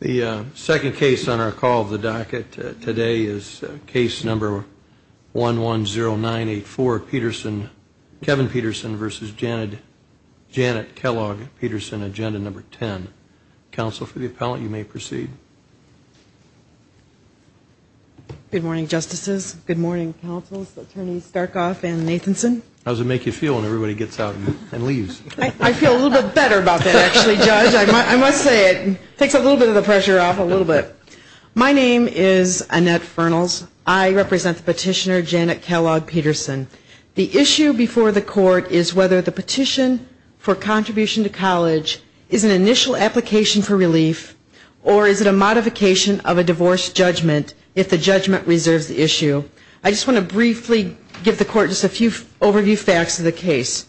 The second case on our call of the docket today is case number 110984, Petersen, Kevin Petersen v. Janet Kellogg, Petersen, agenda number 10. Counsel for the appellant, you may proceed. Good morning, justices. Good morning, counsels, attorneys Starkoff and Nathanson. How does it make you feel when everybody gets out and leaves? I feel a little bit better about that, actually, judge. I must say it takes a little bit of the pressure off a little bit. My name is Annette Fernals. I represent the petitioner, Janet Kellogg-Petersen. The issue before the court is whether the petition for contribution to college is an initial application for relief or is it a modification of a divorce judgment if the judgment reserves the issue. I just want to briefly give the court just a few overview facts of the case.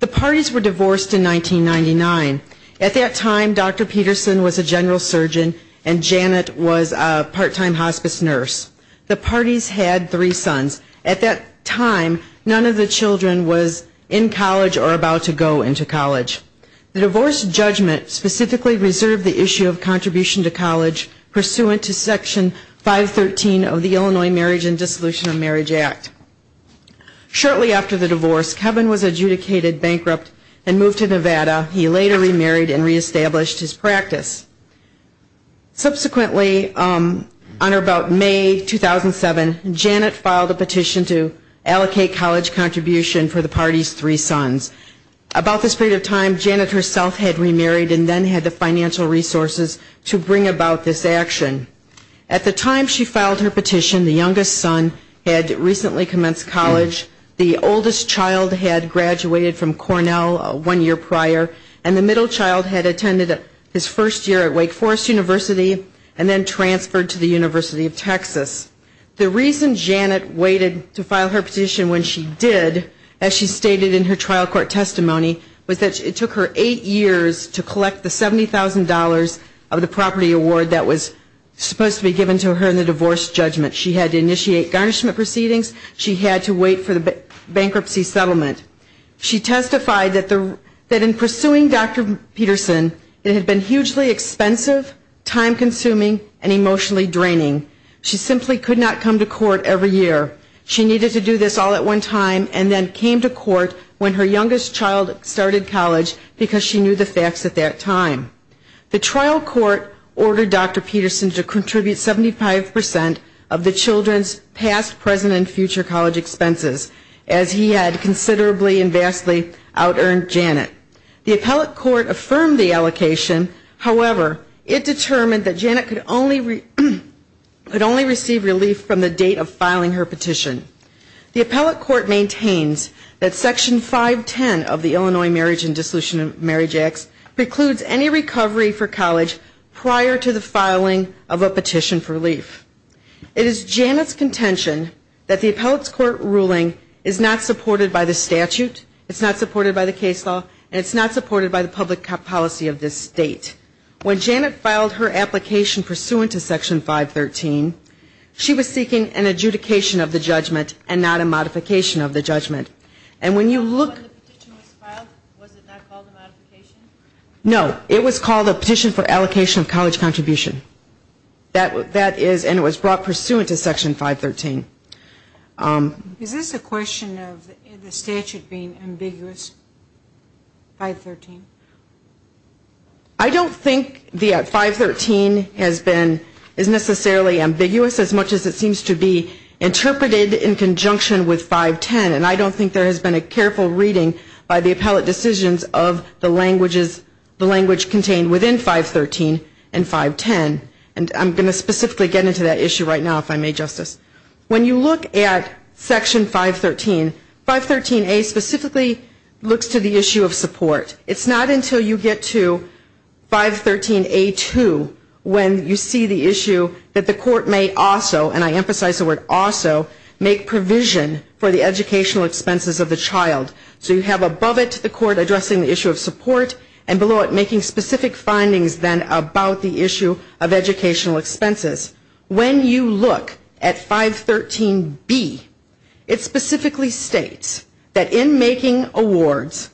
The parties were divorced in 1999. At that time, Dr. Petersen was a general surgeon and Janet was a part-time hospice nurse. The parties had three sons. At that time, none of the children was in college or about to go into college. The divorce judgment specifically reserved the issue of contribution to college pursuant to section 513 of the Illinois Marriage and Dissolution of Marriage Act. Shortly after the divorce, Kevin was adjudicated bankrupt and moved to Nevada. He later remarried and reestablished his practice. Subsequently, on or about May 2007, Janet filed a petition to allocate college contribution for the parties' three sons. About this period of time, Janet herself had remarried and then had the financial resources to bring about this action. At the time she filed her petition, the youngest son had recently commenced college. The oldest child had graduated from Cornell one year prior. And the middle child had attended his first year at Wake Forest University and then transferred to the University of Texas. The reason Janet waited to file her petition when she did, as she stated in her trial court testimony, was that it took her eight years to collect the $70,000 of the property award that was supposed to be given to her in the divorce judgment. She had to initiate garnishment proceedings. She had to wait for the bankruptcy settlement. She testified that in pursuing Dr. Peterson, it had been hugely expensive, time-consuming and emotionally draining. She simply could not come to court every year. She needed to do this all at one time and then came to court when her youngest child started college because she knew the facts at that time. The trial court ordered Dr. Peterson to contribute 75 percent of the children's past, present and future college expenses, as he had considerably and vastly out-earned Janet. The appellate court affirmed the allocation, however, it determined that Janet could only receive relief from the date of filing her petition. The appellate court maintains that Section 510 of the Illinois Marriage and Dissolution of Marriage Act precludes any recovery for college prior to the filing of a petition for relief. It is Janet's contention that the appellate court ruling is not supported by the statute, it's not supported by the case law and it's not supported by the public policy of this state. When Janet filed her application pursuant to Section 513, she was seeking an adjudication of the judgment and not a modification of the judgment. And when you look... When the petition was filed, was it not called a modification? No, it was called a petition for allocation of college contribution. That is, and it was brought pursuant to Section 513. Is this a question of the statute being ambiguous, 513? I don't think that 513 has been, is necessarily ambiguous as much as it seems to be interpreted in conjunction with 510 and I don't think there has been a careful reading by the appellate decisions of the languages, the language contained within 513 and 510. And I'm going to specifically get into that issue right now if I may, Justice. When you look at Section 513, 513A specifically looks to the issue of support. It's not until you get to 513A2 when you see the issue that the court may also, and I emphasize the word also, make provision for the educational expenses of the child. So you have above it the court addressing the issue of support and below it making specific findings then about the issue of educational expenses. When you look at 513B, it specifically states that in making awards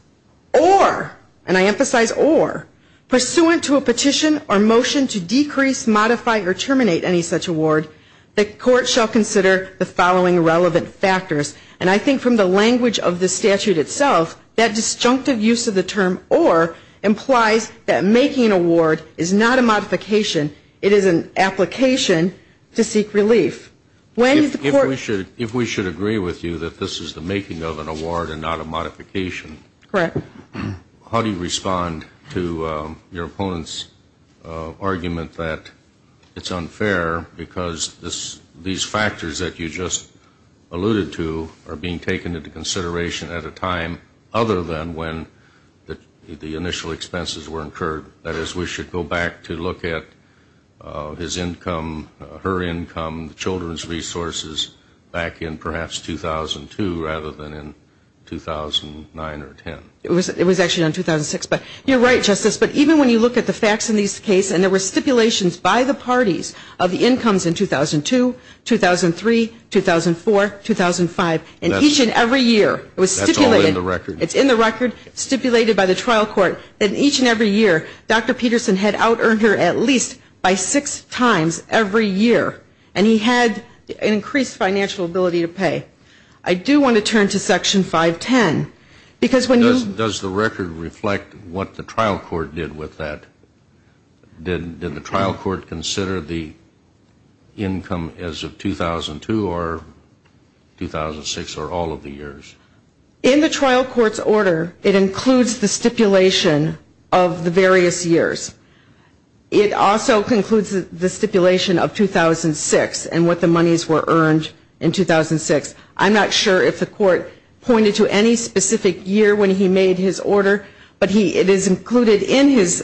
or, and I emphasize or, pursuant to a petition or motion to decrease, modify, or terminate any such award, the court shall consider the following relevant factors. And I think from the language of the statute itself, that disjunctive use of the term or implies that making an award is not a modification. It is an application to seek relief. When the court If we should agree with you that this is the making of an award and not a modification. Correct. How do you respond to your opponent's argument that it's unfair because these factors that you just alluded to are being taken into consideration at a time other than when the initial expenses were incurred. That is, we should go back to look at his income, her income, the children's resources back in perhaps 2002 rather than in 2009 or 10. It was actually in 2006, but you're right, Justice, but even when you look at the facts in this case, and there were stipulations by the parties of the incomes in 2002, 2003, 2004, 2005, and each and every year it was stipulated. That's all in the record. It's in the record, stipulated by the trial court. And each and every year, Dr. Peterson had out-earned her at least by six times every year. And he had an increased financial ability to pay. I do want to turn to Section 510 because when you Does the record reflect what the trial court did with that? Did the trial court consider the income as of 2002 or 2006 or all of the years? In the trial court's order, it includes the stipulation of the various years. It also concludes the stipulation of 2006 and what the monies were earned in 2006. I'm not sure if the court pointed to any specific year when he made his order, but it is included in Judge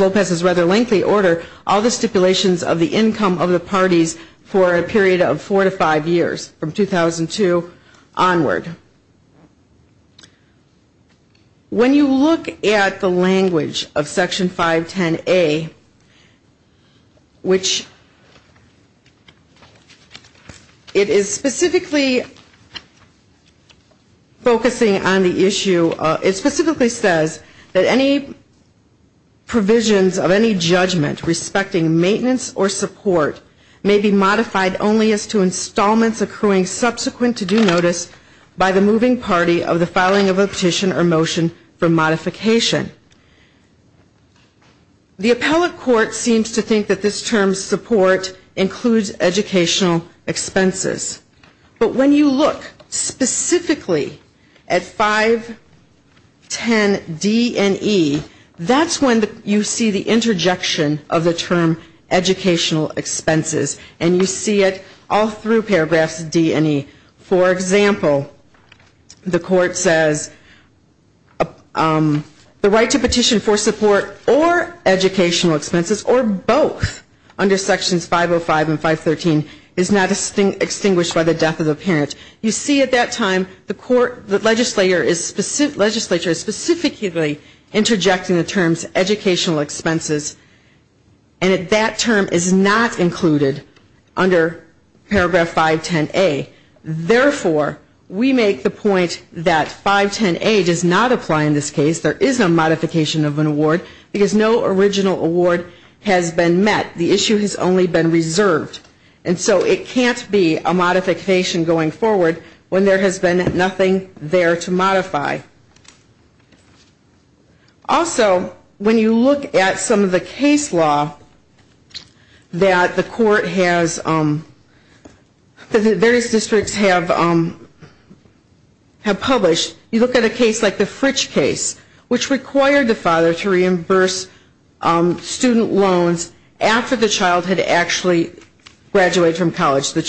Lopez's rather lengthy order, all the stipulations of the income of the parties for a period of four to five years from 2002 onward. When you look at the language of Section 510A, which it is specifically stated in Section 510A, it specifically says that any provisions of any judgment respecting maintenance or support may be modified only as to installments accruing subsequent to due notice by the moving party of the filing of a petition or motion for modification. The appellate court seems to think that this term, support, includes educational expenses. But when you look specifically at 510D and E, that's when you see the interjection of the term educational expenses, and you see it all through paragraphs D and E. For example, the court says the right to petition for support or educational expenses or both under Sections 505 and 513 is not extinguished by the death of the parent. You see at that time the court, the legislature is specifically interjecting the terms educational expenses, and that term is not included under paragraph 510A. Therefore, we make the point that 510A does not apply in this case. There is no modification of an award because no original award has been met. The issue has only been reserved. And so it can't be a modification going forward when there has been nothing there to modify. Also when you look at some of the case law that the court has, that the various districts have published, you look at a case like the Fritch case, which required the father to after the child had actually graduated from college. The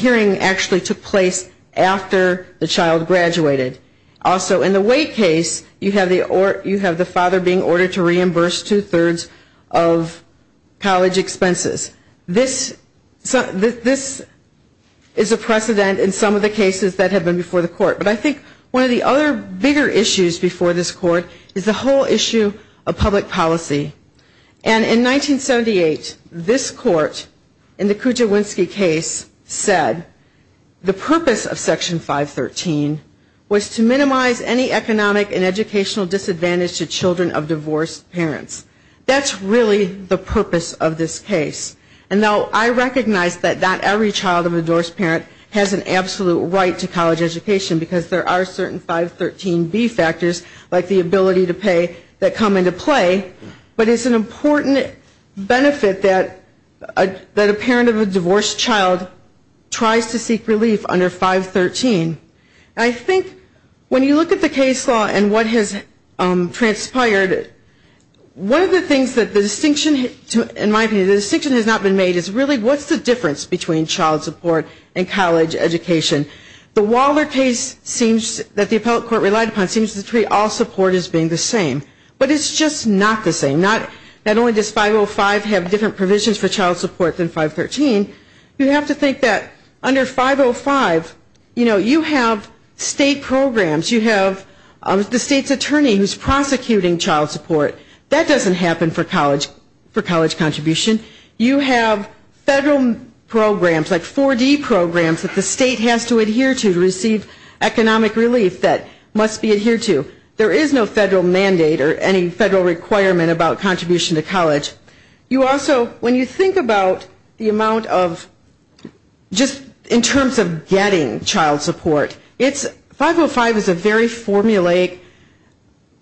hearing actually took place after the child graduated. Also in the Wade case, you have the father being ordered to reimburse two-thirds of college expenses. This is a precedent in some of the cases that have been before the court. But I think one of the other bigger issues before this court is the whole issue of public policy. And in 1978, this court in the Kujawinski case said the purpose of Section 513 was to minimize any economic and educational disadvantage to children of divorced parents. That's really the purpose of this case. And though I recognize that not every child of a divorced parent has an absolute right to college education, because there are certain 513B factors, like the ability to pay, that come into play, but it's an important benefit that a parent of a divorced child tries to seek relief under 513. I think when you look at the case law and what has transpired, one of the things that the distinction, in my opinion, the distinction has not been made is really what's the difference between child support and college education. The Waller case seems that the appellate court relied upon seems to treat all support as being the same. But it's just not the same. Not only does 505 have different provisions for child support than 513, you have to think that under 505, you know, you have state programs. You have the state's attorney who's prosecuting child support. That doesn't happen for college contribution. You have federal programs, like 4D programs that the state has to adhere to to receive economic relief that must be adhered to. There is no federal mandate or any federal requirement about contribution to college. You also, when you think about the amount of, just in terms of getting child support, it's 505 is a very formulaic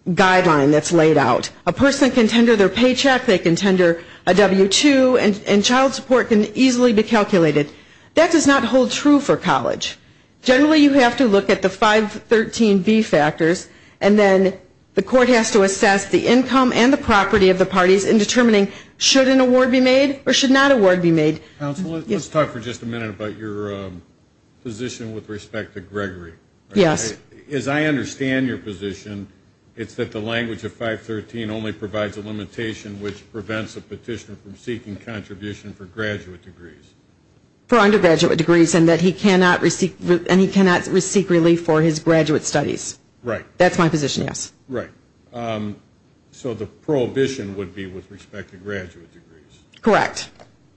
guideline that's laid out. A person can tender their paycheck, they can tender a W-2, and child support can easily be calculated. That does not hold true for college. Generally, you have to look at the 513B factors and then the court has to assess the income and the property of the parties in determining should an award be made or should not award be made. Counsel, let's talk for just a minute about your position with respect to Gregory. Yes. As I understand your position, it's that the language of 513 only provides a limitation which prevents a petitioner from seeking contribution for graduate degrees. For undergraduate degrees and that he cannot, and he cannot seek relief for his graduate studies. Right. That's my position, yes. Right. So the prohibition would be with respect to graduate degrees. Correct.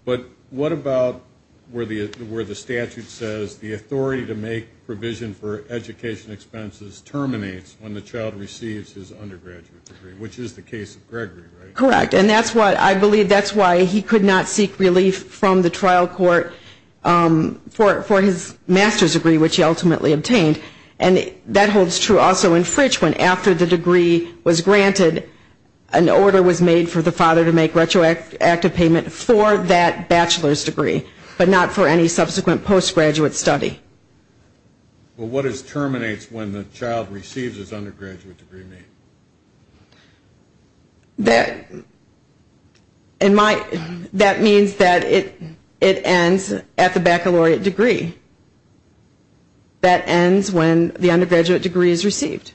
But what about where the statute says the authority to make provision for education expenses terminates when the child receives his undergraduate degree, which is the case of Gregory, right? Correct. And that's what I believe, that's why he could not seek relief from the trial court for his master's degree, which he ultimately obtained. And that holds true also in Fritch when after the degree was granted, an order was made for the father to make retroactive payment for that bachelor's degree, but not for any subsequent post-graduate study. But what is terminates when the child receives his undergraduate degree? That, in my, that means that it ends at the baccalaureate degree. That ends when the undergraduate degree is received.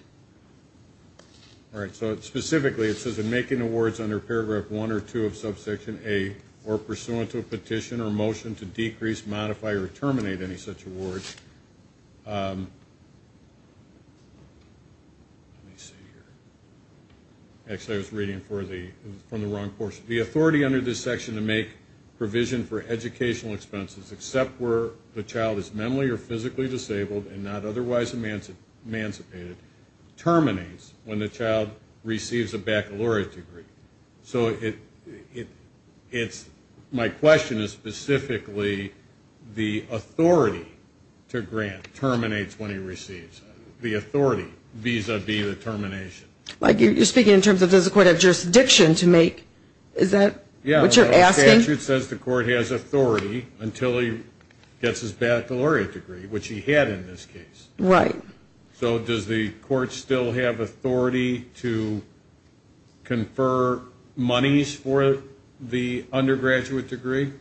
All right. So specifically, it says in making awards under paragraph one or two of subsection A, or pursuant to a petition or motion to decrease, modify, or terminate any such awards. Let me see here. Actually, I was reading for the, from the wrong portion. The authority under this section to make provision for educational expenses, except where the child is mentally or physically disabled and not otherwise emancipated, terminates when the child receives a baccalaureate degree. So it, it's, my question is specifically the authority to grant terminates when he receives. The authority vis-a-vis the termination. Like you're speaking in terms of does the court have jurisdiction to make, is that what you're asking? The statute says the court has authority until he gets his baccalaureate degree, which he had in this case. Right. So does the court still have authority to confer monies for the undergraduate degree?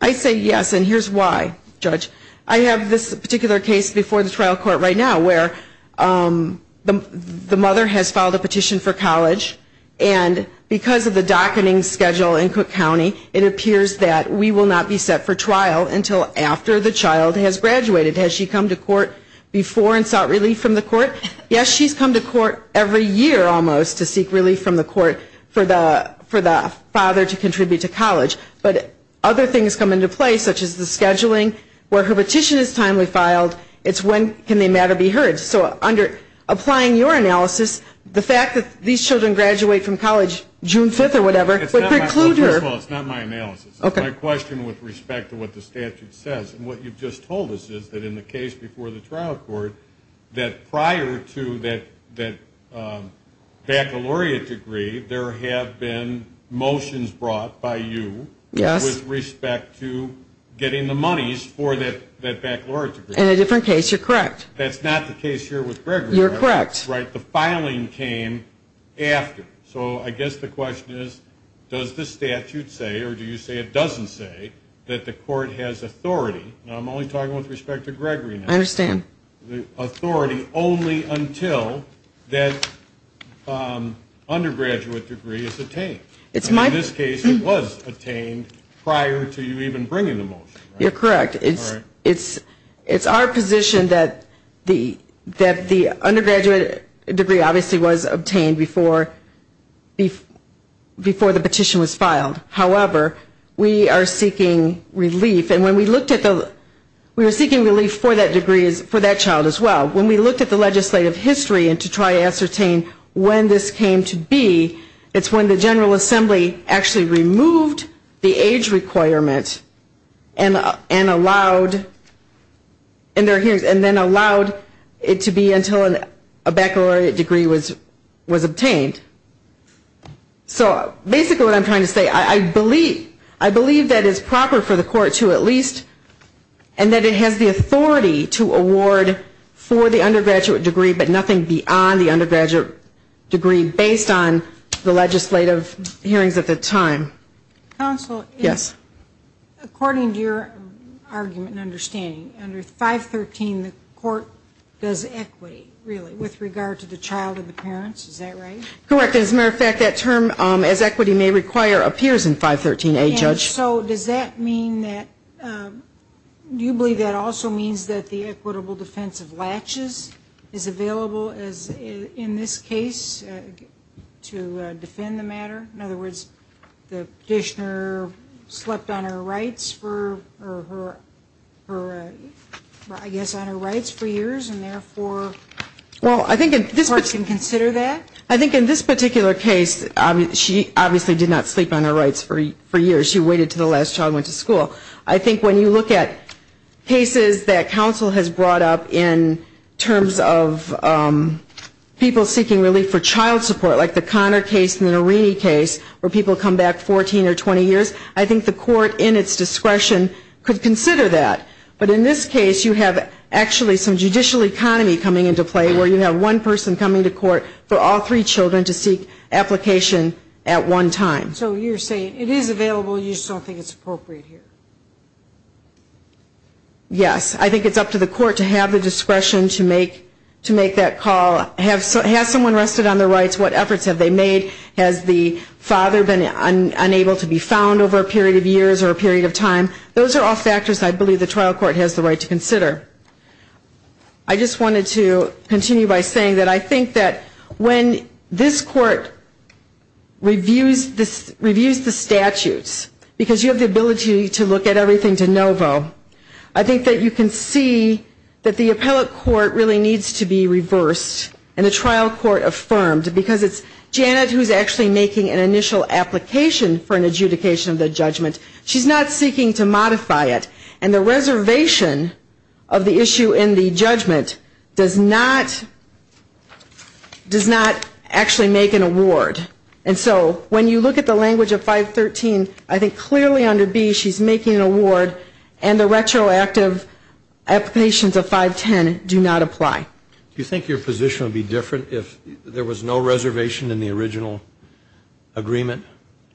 I say yes, and here's why, Judge. I have this particular case before the trial court right now where the mother has filed a petition for college and because of the docketing schedule in Cook County, it appears that we will not be set for trial until after the child has graduated. Has she come to court before and sought relief from the court? Yes, she's come to court every year almost to seek relief from the court for the, for the father to contribute to college. But other things come into play, such as the scheduling, where her petition is timely filed, it's when can the matter be heard. So under, applying your analysis, the fact that these children graduate from college June 5th or whatever, would preclude her. Well, first of all, it's not my analysis. It's my question with respect to what the statute says. And what you've just told us is that in the case before the trial court, that prior to that, that baccalaureate degree, there have been motions brought by you with respect to getting the monies for that, that baccalaureate degree. In a different case, you're correct. That's not the case here with Gregory. You're correct. Right. The filing came after. So I guess the question is, does the statute say, or do you say it doesn't say, that the court has authority? Now I'm only talking with respect to Gregory now. I understand. Authority only until that undergraduate degree is attained. It's my In this case, it was attained prior to you even bringing the motion. You're correct. It's our position that the undergraduate degree obviously was obtained before the petition was filed. However, we are seeking relief. And when we looked at the, we were seeking relief for that degree, for that child as well. When we looked at the legislative history and to try to ascertain when this came to be, it's when the General and allowed, and then allowed it to be until a baccalaureate degree was obtained. So basically what I'm trying to say, I believe, I believe that it's proper for the court to at least, and that it has the authority to award for the undergraduate degree, but nothing beyond the undergraduate degree based on the legislative hearings at the time. Counsel. Yes. According to your argument and understanding, under 513, the court does equity, really, with regard to the child and the parents. Is that right? Correct. As a matter of fact, that term, as equity may require, appears in 513A, Judge. And so does that mean that, do you believe that also means that the equitable defense of latches is available as in this case to defend the matter? In other words, the petitioner slept on her rights for, I guess, on her rights for years, and therefore, the court can consider that? I think in this particular case, she obviously did not sleep on her rights for years. She waited until the last child went to school. I think when you look at cases that counsel has brought up in terms of people seeking relief for child support, like the Connor case and the Norene case, where people come back 14 or 20 years, I think the court in its discretion could consider that. But in this case, you have actually some judicial economy coming into play, where you have one person coming to court for all three children to seek application at one time. So you're saying it is available, you just don't think it's appropriate here? Yes. I think it's up to the court to have the discretion to make that call. Has someone rested on their rights? What efforts have they made? Has the father been unable to be found over a period of years or a period of time? Those are all factors I believe the trial court has the right to consider. I just wanted to continue by saying that I think that when this court reviews the statutes, because you have the ability to look at everything de novo, I think that you can see that the Janet who is actually making an initial application for an adjudication of the judgment, she's not seeking to modify it. And the reservation of the issue in the judgment does not actually make an award. And so when you look at the language of 513, I think clearly under B she's making an award and the retroactive applications of 510 do not apply. Do you think your position would be different if there was no reservation in the original agreement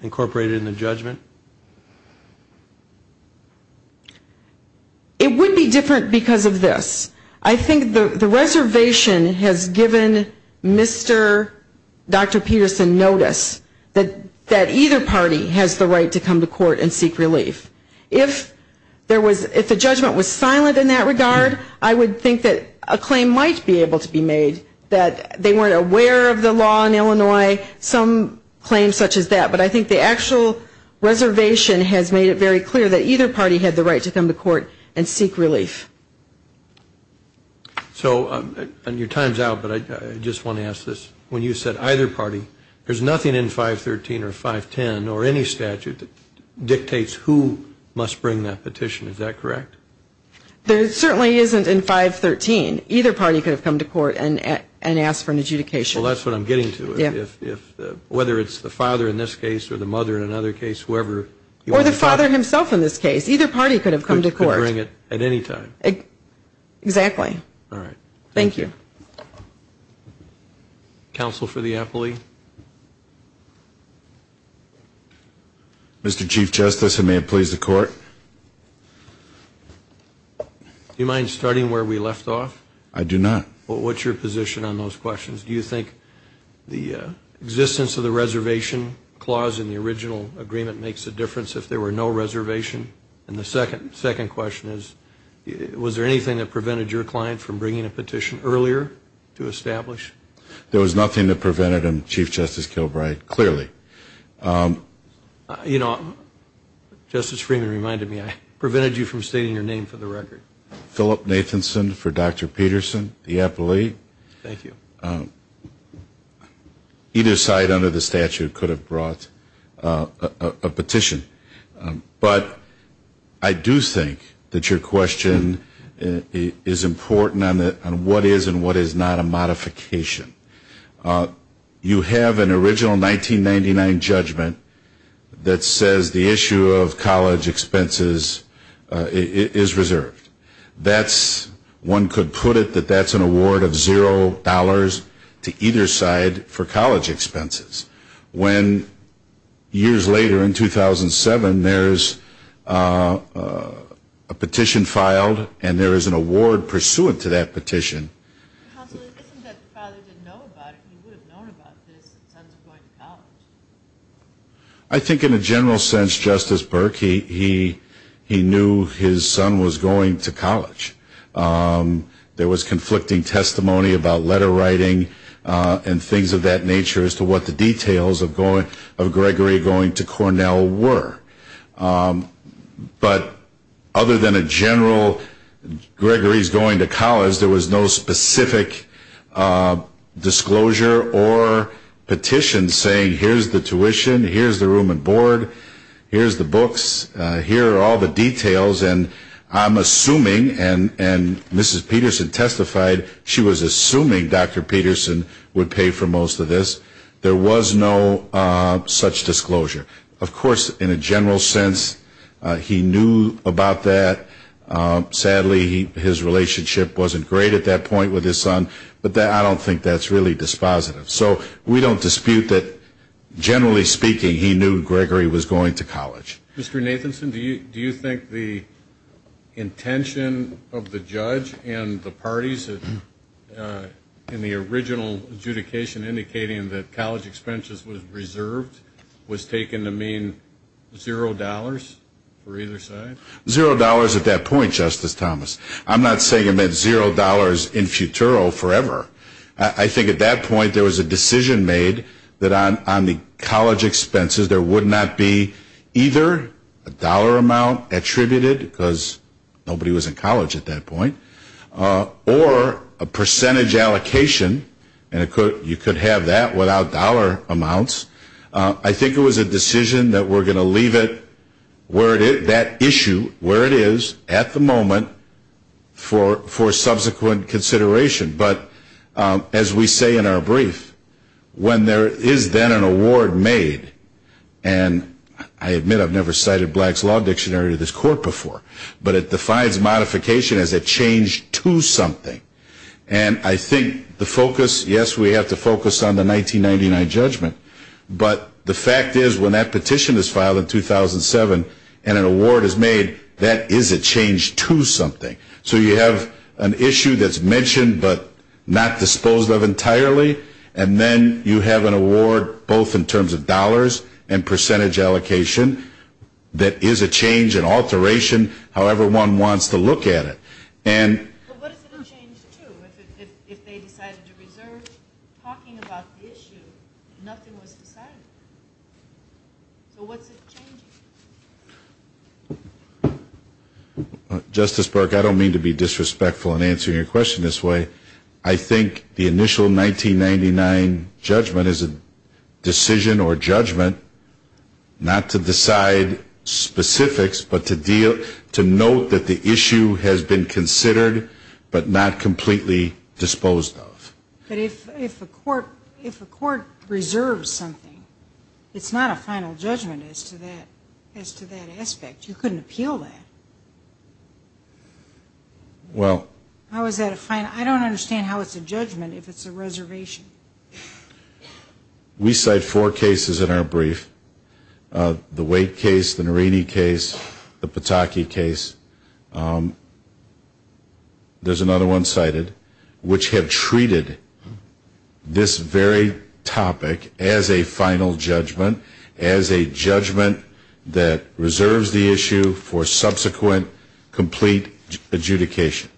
incorporated in the judgment? It would be different because of this. I think the reservation has given Mr. Dr. Peterson notice that either party has the right to come to court and seek relief. If the judgment was silent in that regard, I would think that a claim might be able to be made that they weren't aware of the law in Illinois, some claims such as that. But I think the actual reservation has made it very clear that either party had the right to come to court and seek relief. So your time's out, but I just want to ask this. When you said either party, there's nothing in 513 or 510 or any statute that dictates who must bring that petition, is that correct? There certainly isn't in 513. Either party could have come to court and asked for an adjudication. Well, that's what I'm getting to. Whether it's the father in this case or the mother in another case, whoever. Or the father himself in this case. Either party could have come to court. Could bring it at any time. Exactly. All right. Thank you. Counsel for the appellee. Mr. Chief Justice, and may it please the Court. Do you mind starting where we left off? I do not. Well, what's your position on those questions? Do you think the existence of the reservation clause in the original agreement makes a difference if there were no reservation? And the second question is, was there anything that prevented your client from bringing a petition earlier to establish? There was nothing that prevented him, Chief Justice Kilbride, clearly. You know, Justice Freeman reminded me, I prevented you from stating your name for the record. Philip Nathanson for Dr. Peterson, the appellee. Thank you. Either side under the statute could have brought a petition. But I do think that your question is important on what is and what is not a modification. You have an original 1999 judgment that says the issue of college expenses is reserved. One could put it that that's an award of zero dollars to either side for college expenses. When, years later in 2007, there's a petition filed and there is an award pursuant to that petition. Counsel, isn't it that the father didn't know about it? He would have known about this if his sons were going to college. I think in a general sense, Justice Burke, he knew his son was going to college. There was conflicting testimony about letter writing and things of that nature as to what the details of Gregory going to Cornell were. But other than a general, Gregory's going to college, there was no specific disclosure or petition saying, here's the tuition, here's the room and board, here's the books, here are all the details, and I'm assuming, and Mrs. Peterson testified, she was assuming Dr. Peterson would pay for most of this. There was no such disclosure. Of course, in a general sense, he knew about that. Sadly, his relationship wasn't great at that point with his son, but I don't think that's really dispositive. So we don't dispute that, generally speaking, he knew Gregory was going to college. Mr. Nathanson, do you think the intention of the judge and the parties in the original adjudication indicating that college expenses were reserved was taken to mean zero dollars for either side? Zero dollars at that point, Justice Thomas. I'm not saying it meant zero dollars in futuro forever. I think at that point, there was a decision made that on the college expenses, there would not be either a dollar amount attributed, because nobody was in college at that point, or a percentage allocation, and you could have that without dollar amounts. I think it was a decision that we're going to leave that issue where it is at the moment for subsequent consideration, but as we say in our brief, when there is then an award made, and I admit I've never cited Black's Law Dictionary to this court before, but it defines modification as a change to something. And I think the focus, yes, we have to focus on the 1999 judgment, but the fact is when that petition is filed in 2007, and an award is made, that is a change to something. So you have an issue that's mentioned, but not disposed of entirely, and then you have an award, both in terms of dollars and percentage allocation, that is a change, an alteration, however one wants to look at it. But what is it a change to, if they decided to reserve talking about the issue, and nothing was decided? So what's it changing? Justice Burke, I don't mean to be disrespectful in answering your question this way. I think the initial 1999 judgment is a decision or judgment not to decide specifics, but to deal, to note that the issue has been considered, but not completely disposed of. But if a court reserves something, it's not a final judgment as to that aspect. You couldn't appeal that. Well. How is that a final, I don't understand how it's a judgment if it's a reservation. We cite four cases in our brief, the Waite case, the Nerini case, the Pataki case, there's another one cited, which have treated this very topic as a final judgment, as a judgment that reserves the issue for subsequent, complete adjudication.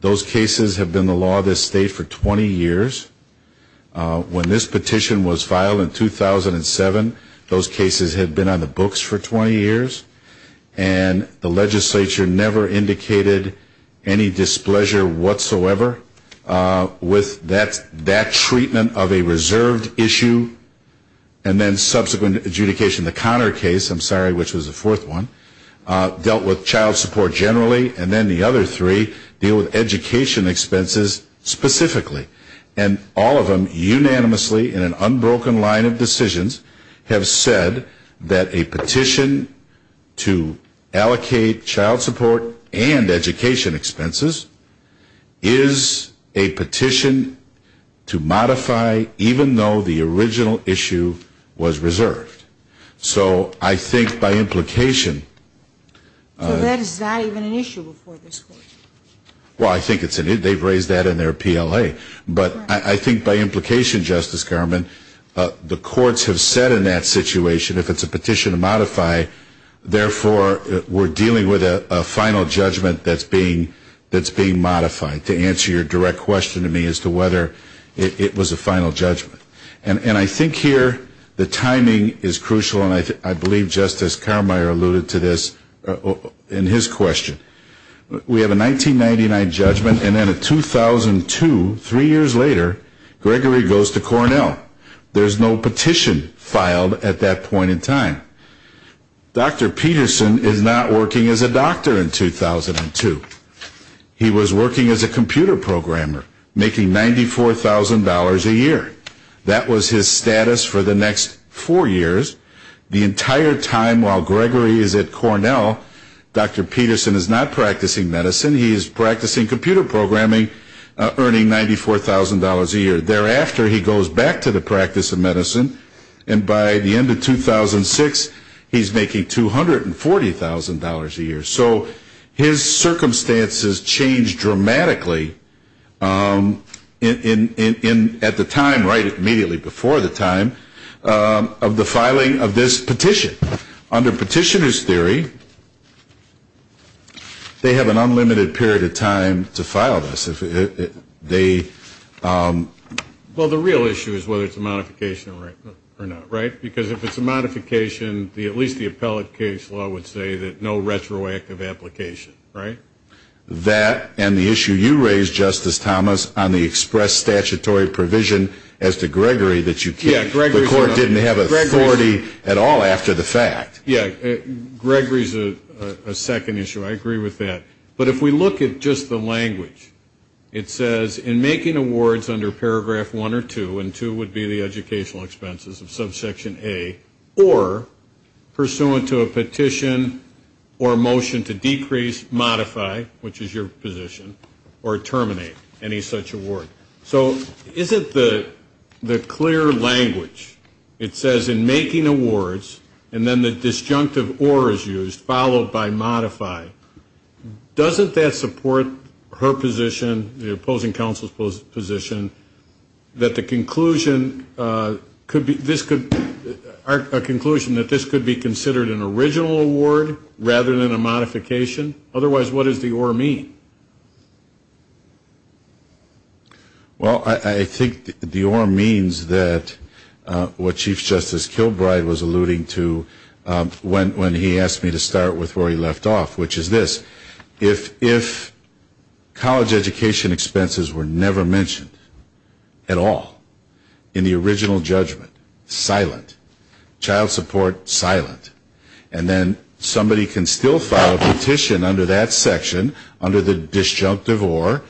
Those cases have been the law of this state for 20 years. When this petition was filed in 2007, those cases had been on the books for 20 years. And the legislature never indicated any displeasure whatsoever with that treatment of a reserved issue, and then subsequent adjudication. The Conner case, I'm sorry, which was the fourth one, dealt with child support generally, and then the other three deal with education expenses specifically. And all of them unanimously in an unbroken line of decisions have said that a petition to allocate child support and education expenses is a petition to modify even though the original issue was reserved. So I think by implication. So that is not even an issue before this court? Well, I think they've raised that in their PLA. But I think by implication, Justice Carmine, the courts have said in that situation if it's a petition to modify, therefore we're dealing with a final judgment that's being modified, to answer your direct question to me as to whether it was a final judgment. And I think here the timing is crucial, and I believe Justice Carmine alluded to this in his question. We have a 1999 judgment, and then a 2002, three years later, Gregory goes to Cornell. There's no petition filed at that point in time. Dr. Peterson is not working as a doctor in 2002. He was working as a computer programmer, making $94,000 a year. That was his status for the next four years. The entire time while Gregory is at Cornell, Dr. Peterson is not practicing medicine. He is practicing computer programming, earning $94,000 a year. Thereafter, he goes back to the practice of medicine, and by the end of 2006, he's making $240,000 a year. So his circumstances change dramatically at the time, right immediately before the time of the filing of this petition. Under petitioner's theory, they have an unlimited period of time to file this. Well, the real issue is whether it's a modification or not, right? Because if it's a modification, at least the appellate case law would say that no retroactive application, right? That and the issue you raised, Justice Thomas, on the express statutory provision as to Gregory that the court didn't have authority at all after the fact. Yeah, Gregory is a second issue. I agree with that. But if we look at just the language, it says, in making awards under paragraph 1 or 2, and 2 would be the educational expenses of subsection A, or pursuant to a petition or motion to decrease, modify, which is your position, or terminate any such award. So isn't the clear language, it says, in making awards, and then the disjunctive or is used, followed by modify, doesn't that support her position, the opposing counsel's position, that the conclusion could be, this could, a conclusion that this could be considered an original award rather than a modification? Otherwise, what does the or mean? Well, I think the or means that what Chief Justice Kilbride was alluding to when he asked me to start with where he left off, which is this. If college education expenses were never mentioned at all in the original judgment, silent, child support, silent, and then somebody can still file a petition under that section, under the disjunctive or,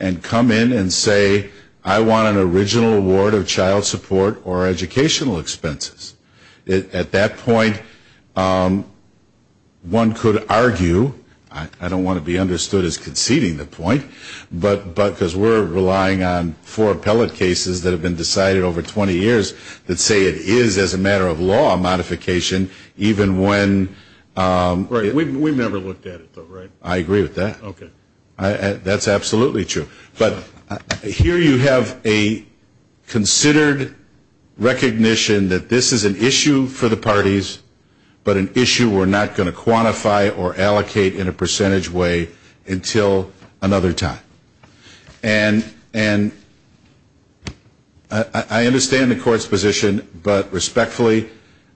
and come in and say, I want an original award of child support or educational expenses. At that point, one could argue, I don't want to be understood as conceding the point, but because we're relying on four appellate cases that have been decided over 20 years that say it is, as a matter of law, a modification, even when Right. We've never looked at it though, right? I agree with that. Okay. That's absolutely true. But here you have a considered recognition that this is an issue for the parties, but an issue we're not going to quantify or allocate in a percentage way until another time. And I understand the court's position, but respectfully,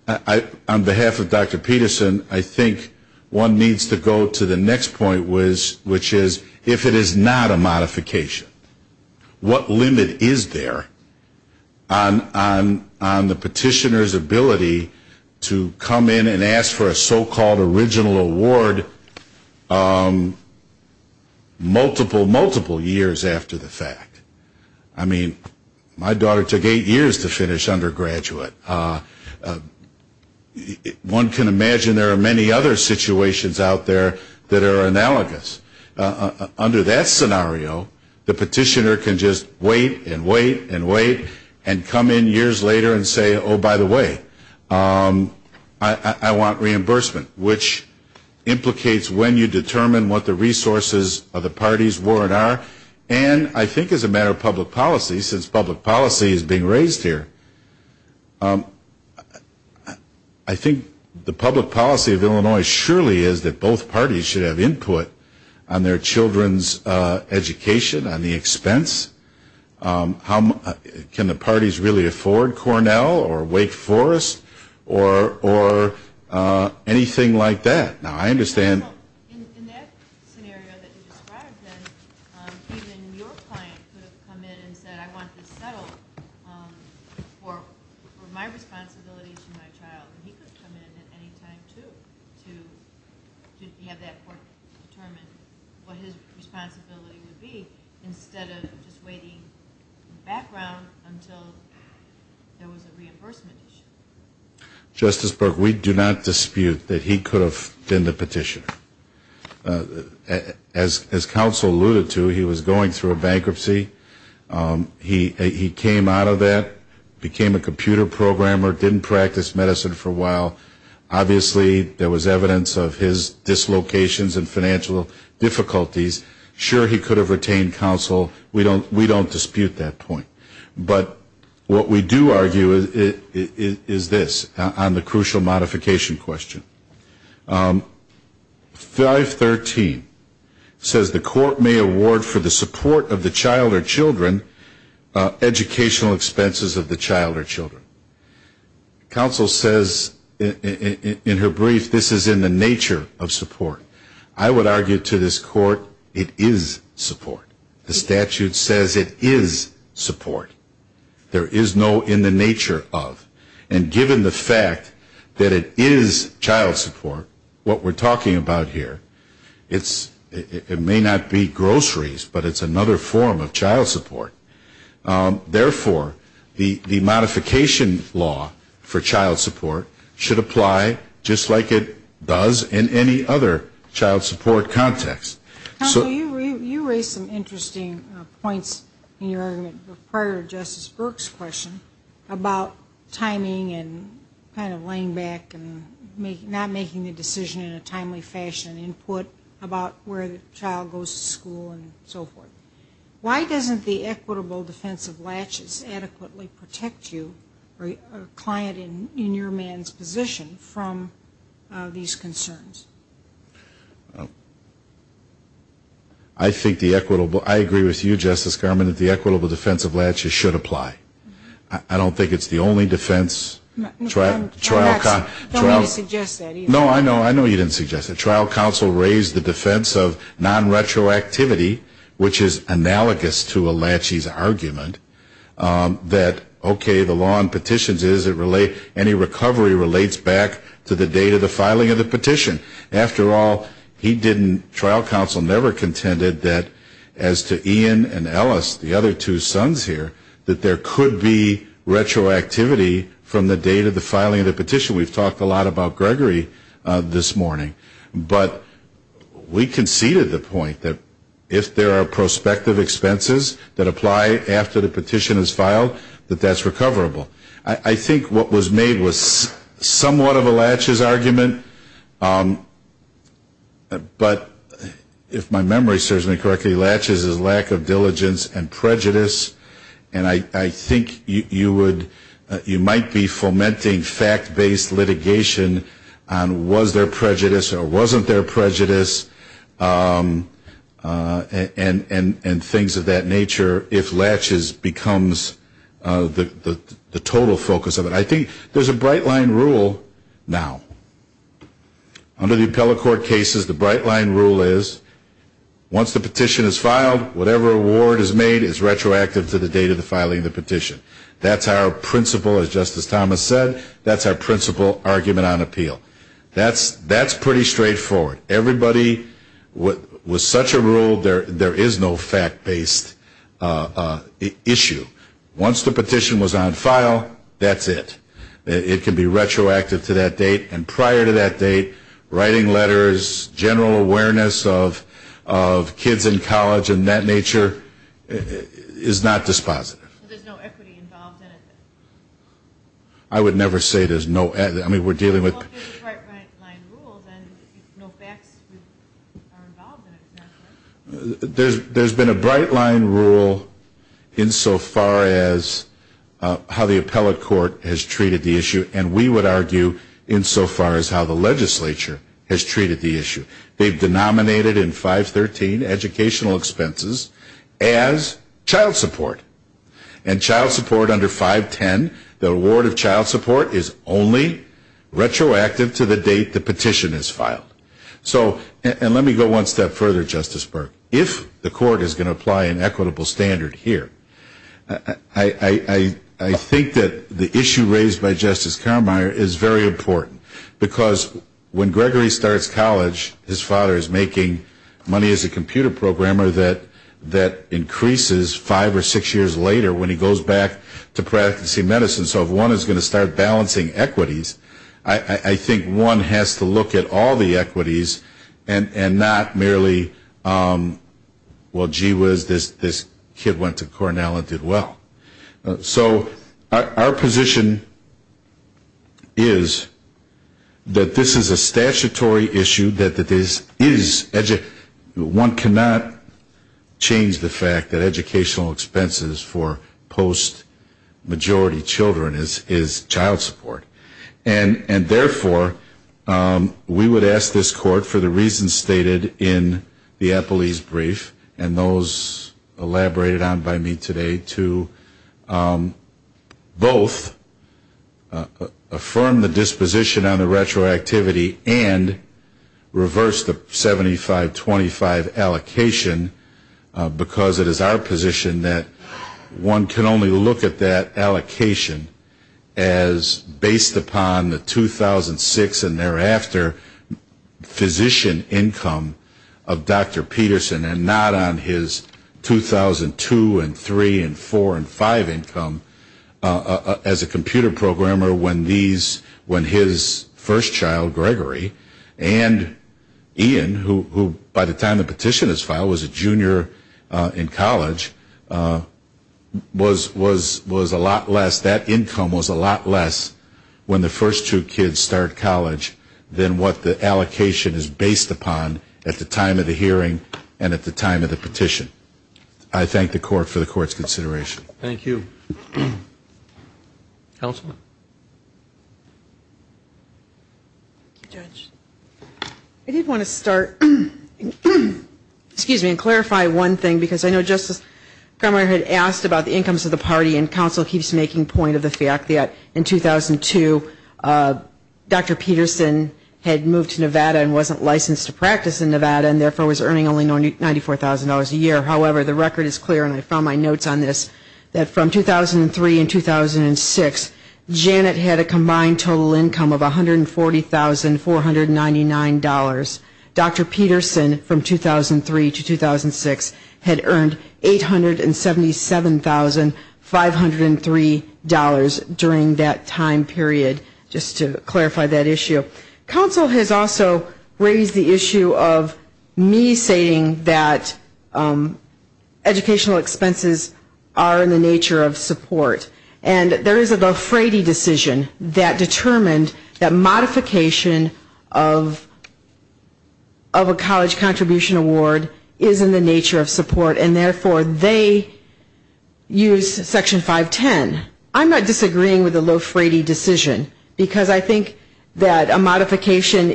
on behalf of Dr. Kline, I think one needs to go to the next point, which is, if it is not a modification, what limit is there on the petitioner's ability to come in and ask for a so-called original award multiple, multiple years after the fact? I mean, my daughter took eight years to finish undergraduate. One can imagine there are many other situations out there that are analogous. Under that scenario, the petitioner can just wait and wait and wait and come in years later and say, oh, by the way, I want reimbursement, which implicates when you determine what the resources of the parties were and are. And I think as a matter of public policy, since public policy is being raised here, I think the public policy of Illinois surely is that both parties should have input on their children's education, on the expense. Can the parties really afford Cornell or Wake Forest or anything like that? In that scenario that you described, then, even your client could have come in and said, I want this settled for my responsibility to my child. And he could come in at any time, too, to have that court determine what his responsibility would be instead of just waiting in the background until there was a reimbursement issue. Justice Burke, we do not dispute that he could have been the petitioner. As counsel alluded to, he was going through a bankruptcy. He came out of that, became a computer programmer, didn't practice medicine for a while. Obviously, there was evidence of his dislocations and financial difficulties. Sure, he could have retained counsel. We don't dispute that point. But what we do argue is this on the crucial modification question. 513 says the court may award for the support of the child or children educational expenses of the child or children. Counsel says in her brief, this is in the nature of support. I would argue to this court, it is support. The statute says it is support. There is no in the nature of. And given the fact that it is child support, what we're talking about here, it may not be groceries, but it's another form of child support. Therefore, the modification law for child support should apply just like it does in any other child support context. Counsel, you raised some interesting points in your argument prior to Justice Burke's question about timing and kind of laying back and not making the decision in a timely fashion and input about where the child goes to school and so forth. Why doesn't the equitable defense of latches adequately protect you or a client in your man's position from these concerns? I think the equitable, I agree with you, Justice Garmon, that the equitable defense of latches should apply. I don't think it's the only defense. I don't mean to suggest that either. No, I know you didn't suggest that. Trial counsel raised the defense of non-retroactivity, which is analogous to a latches argument, that, okay, the law in petitions is any recovery relates back to the date of the filing of the petition. After all, he didn't, trial counsel never contended that, as to Ian and Ellis, the other two sons here, that there could be retroactivity from the date of the filing of the petition. We've talked a lot about Gregory this morning. But we conceded the point that if there are prospective expenses that apply after the petition is filed, that that's recoverable. I think what was made was somewhat of a latches argument, but if my memory serves me correctly, latches is lack of diligence and prejudice. And I think you would, you might be fomenting fact-based litigation on was there prejudice or wasn't there prejudice and things of that nature if latches becomes the total focus of it. I think there's a bright line rule now. Under the appellate court cases, the bright line rule is, once the petition is filed, whatever award is made is retroactive to the date of the filing of the petition. That's our principle, as Justice Thomas said. That's our principle argument on appeal. That's pretty straightforward. Everybody, with such a rule, there is no fact-based issue. Once the petition was on file, that's it. It can be retroactive to that date. And prior to that date, writing letters, general awareness of kids in college and that nature is not dispositive. So there's no equity involved in it? I would never say there's no equity. I mean, we're dealing with Well, there's a bright line rule and no facts are involved in it. There's been a bright line rule insofar as how the appellate court has treated the issue and we would argue insofar as how the legislature has treated the issue. They've denominated in 513 educational expenses as child support. And child support under 510, the award of child support is only retroactive to the date the petition is filed. So, and let me go one step further, Justice Burke. If the court is going to apply an equitable standard here, I think that the issue raised by Justice Carmeier is very important. Because when Gregory starts college, his father is making money as a computer programmer that increases five or six years later when he goes back to practicing medicine. So if one is going to start balancing equities, I think one has to look at all the equities and not merely, well, gee whiz, this kid went to Cornell and did well. So our position is that this is a statutory issue, that this is, one cannot change the fact that educational expenses for post-majority children is child support. And therefore, we would ask this court for the reasons stated in the petition, both affirm the disposition on the retroactivity and reverse the 75-25 allocation, because it is our position that one can only look at that allocation as based upon the 2006 and thereafter physician income of Dr. Carmeier. the disposition on the retroactivity and reverse the 75-25 income as a computer programmer when these, when his first child, Gregory, and Ian, who by the time the petition is filed was a junior in college, was a lot less, that income was a lot less when the first two kids start college than what the allocation is based upon at the time of the hearing and at the time of the petition. I thank the court for the court's consideration. Thank you. Counsel? I did want to start, excuse me, and clarify one thing, because I know Justice Carmeier had asked about the incomes of the party and counsel keeps making point of the fact that in 2002, Dr. Peterson had moved to Nevada and wasn't licensed to practice in Nevada and therefore was earning only $94,000 a year. However, the record is clear and I found my notes on this, that from 2003 and 2006, Janet had a combined total income of $140,499. Dr. Peterson from 2003 to 2006 had earned $877,503 during that time period, just to clarify that issue. Counsel has also raised the issue of me saying that educational expenses are in the nature of support and there is a Lofrede decision that determined that modification of a college contribution award is in the nature of support and therefore they use Section 510. I'm not disagreeing with the Lofrede decision because I think that a modification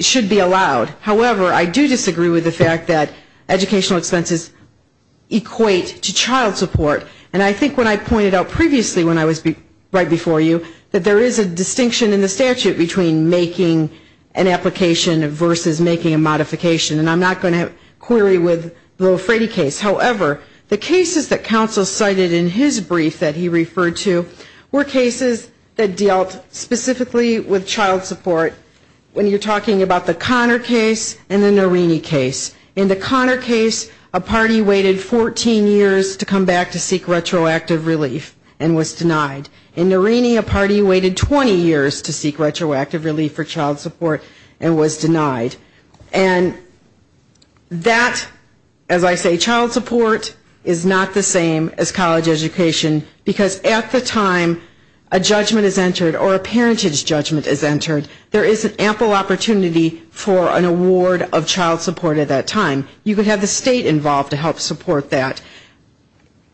should be allowed. However, I do disagree with the fact that educational expenses equate to child support and I think when I pointed out previously when I was right before you that there is a distinction in the statute between making an application versus making a modification and I'm not going to query with you about the Lofrede case, however, the cases that counsel cited in his brief that he referred to were cases that dealt specifically with child support when you're talking about the Conner case and the Norini case. In the Conner case, a party waited 14 years to come back to seek retroactive relief and was denied. In Norini, a party waited 20 years to seek retroactive relief for child support. As I say, child support is not the same as college education because at the time a judgment is entered or a parentage judgment is entered, there is an ample opportunity for an award of child support at that time. You could have the state involved to help support that.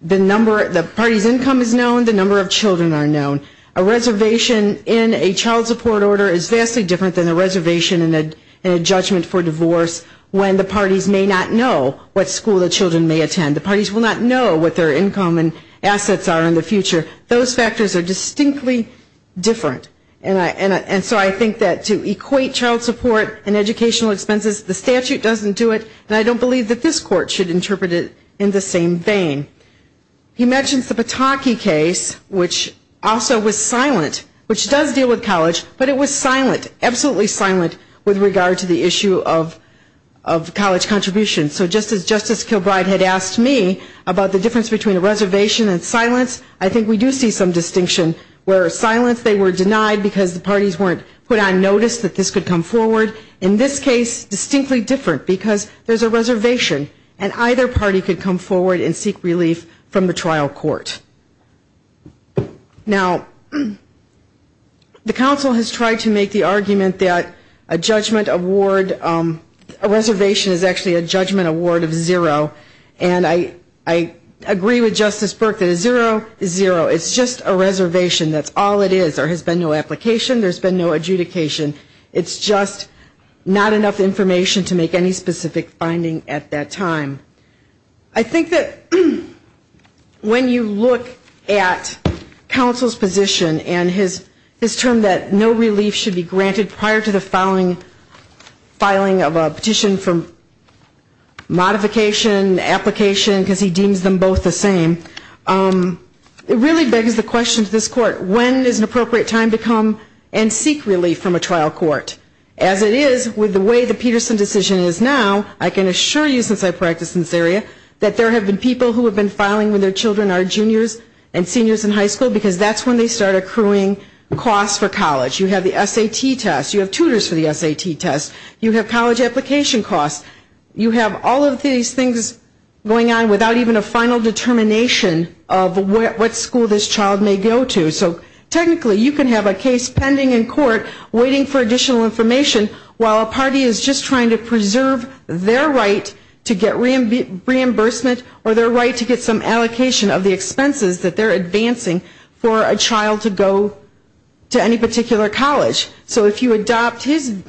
The party's income is known, the number of children are known. A reservation in a child support order is vastly different than a reservation and a judgment for divorce when the parties may not know what school the children may attend. The parties will not know what their income and assets are in the future. Those factors are distinctly different. And so I think that to equate child support and educational expenses, the statute doesn't do it and I don't believe that this court should interpret it in the same vein. He mentions the Pataki case, which also was silent, which does deal with regard to the issue of college contributions. So just as Justice Kilbride had asked me about the difference between a reservation and silence, I think we do see some distinction where silence, they were denied because the parties weren't put on notice that this could come forward. In this case, distinctly different because there's a reservation and either party could come forward and seek relief from the trial court. Now, the council has tried to make the argument that a judgment award, a reservation is actually a judgment award of zero. And I agree with Justice Burke that a zero is zero. It's just a reservation. That's all it is. There has been no application. There's been no adjudication. It's just not enough information to make any specific finding at that time. I think that when you look at counsel's position and his term that no relief should be granted prior to the filing of a petition for modification, application, because he deems them both the same, it really begs the question to this court, when is an appropriate time to come and seek relief from a trial court? As it is with the way the Peterson decision is now, I can assure you since I practice in this area, that there have been people who have been filing with their children, our juniors and seniors in high school, because that's when they start accruing costs for college. You have the SAT test. You have tutors for the SAT test. You have college application costs. You have all of these things going on without even a final determination of what school this child may go to. So technically you can have a case pending in court waiting for additional reimbursement or their right to get some allocation of the expenses that they're advancing for a child to go to any particular college. So if you adopt his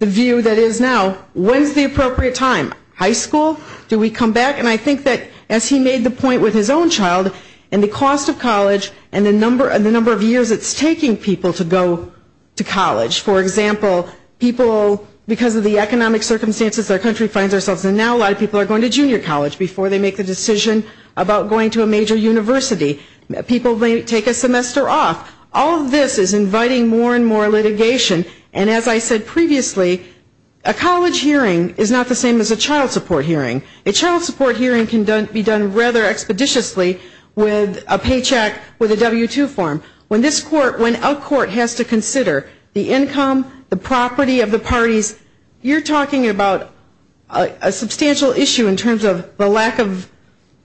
view that is now, when is the appropriate time? High school? Do we come back? And I think that as he made the point with his own child and the cost of college and the number of years it's taking people to go to college. For example, people, because of the economic circumstances our country finds ourselves in now, a lot of people are going to junior college before they make the decision about going to a major university. People may take a semester off. All of this is inviting more and more litigation. And as I said previously, a college hearing is not the same as a child support hearing. A child support hearing can be done rather expeditiously with a paycheck with a W-2 form. When this court, when a court has to consider the income, the property of the parties, you're talking about a substantial issue in terms of the lack of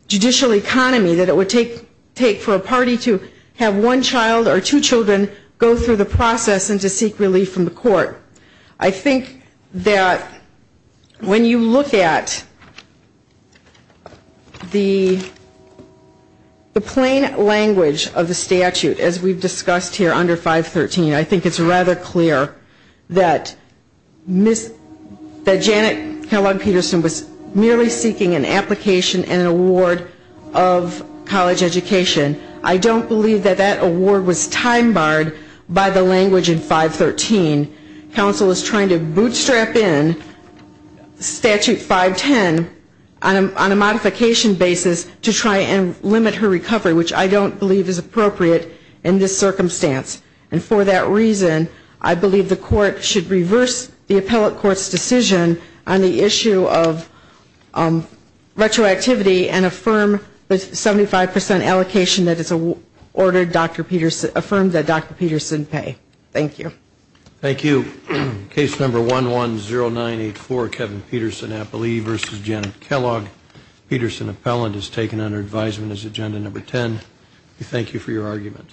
judicial economy that it would take for a party to have one child or two children go through the process and to seek relief from the court. I think that when you look at the plain language of the statute, as we've seen, that Janet Kellogg-Peterson was merely seeking an application and an award of college education. I don't believe that that award was time-barred by the language in 513. Counsel is trying to bootstrap in Statute 510 on a modification basis to try and limit her recovery, which I don't believe is appropriate in this circumstance. And for that reason, I believe the court should reverse the appellate court's decision on the issue of retroactivity and affirm the 75 percent allocation that is ordered, Dr. Peterson, affirmed that Dr. Peterson pay. Thank you. Thank you. Case number 110984, Kevin Peterson, appellee versus Janet Kellogg. Peterson, appellant, is taken under advisement as agenda number 10. We thank you for your argument.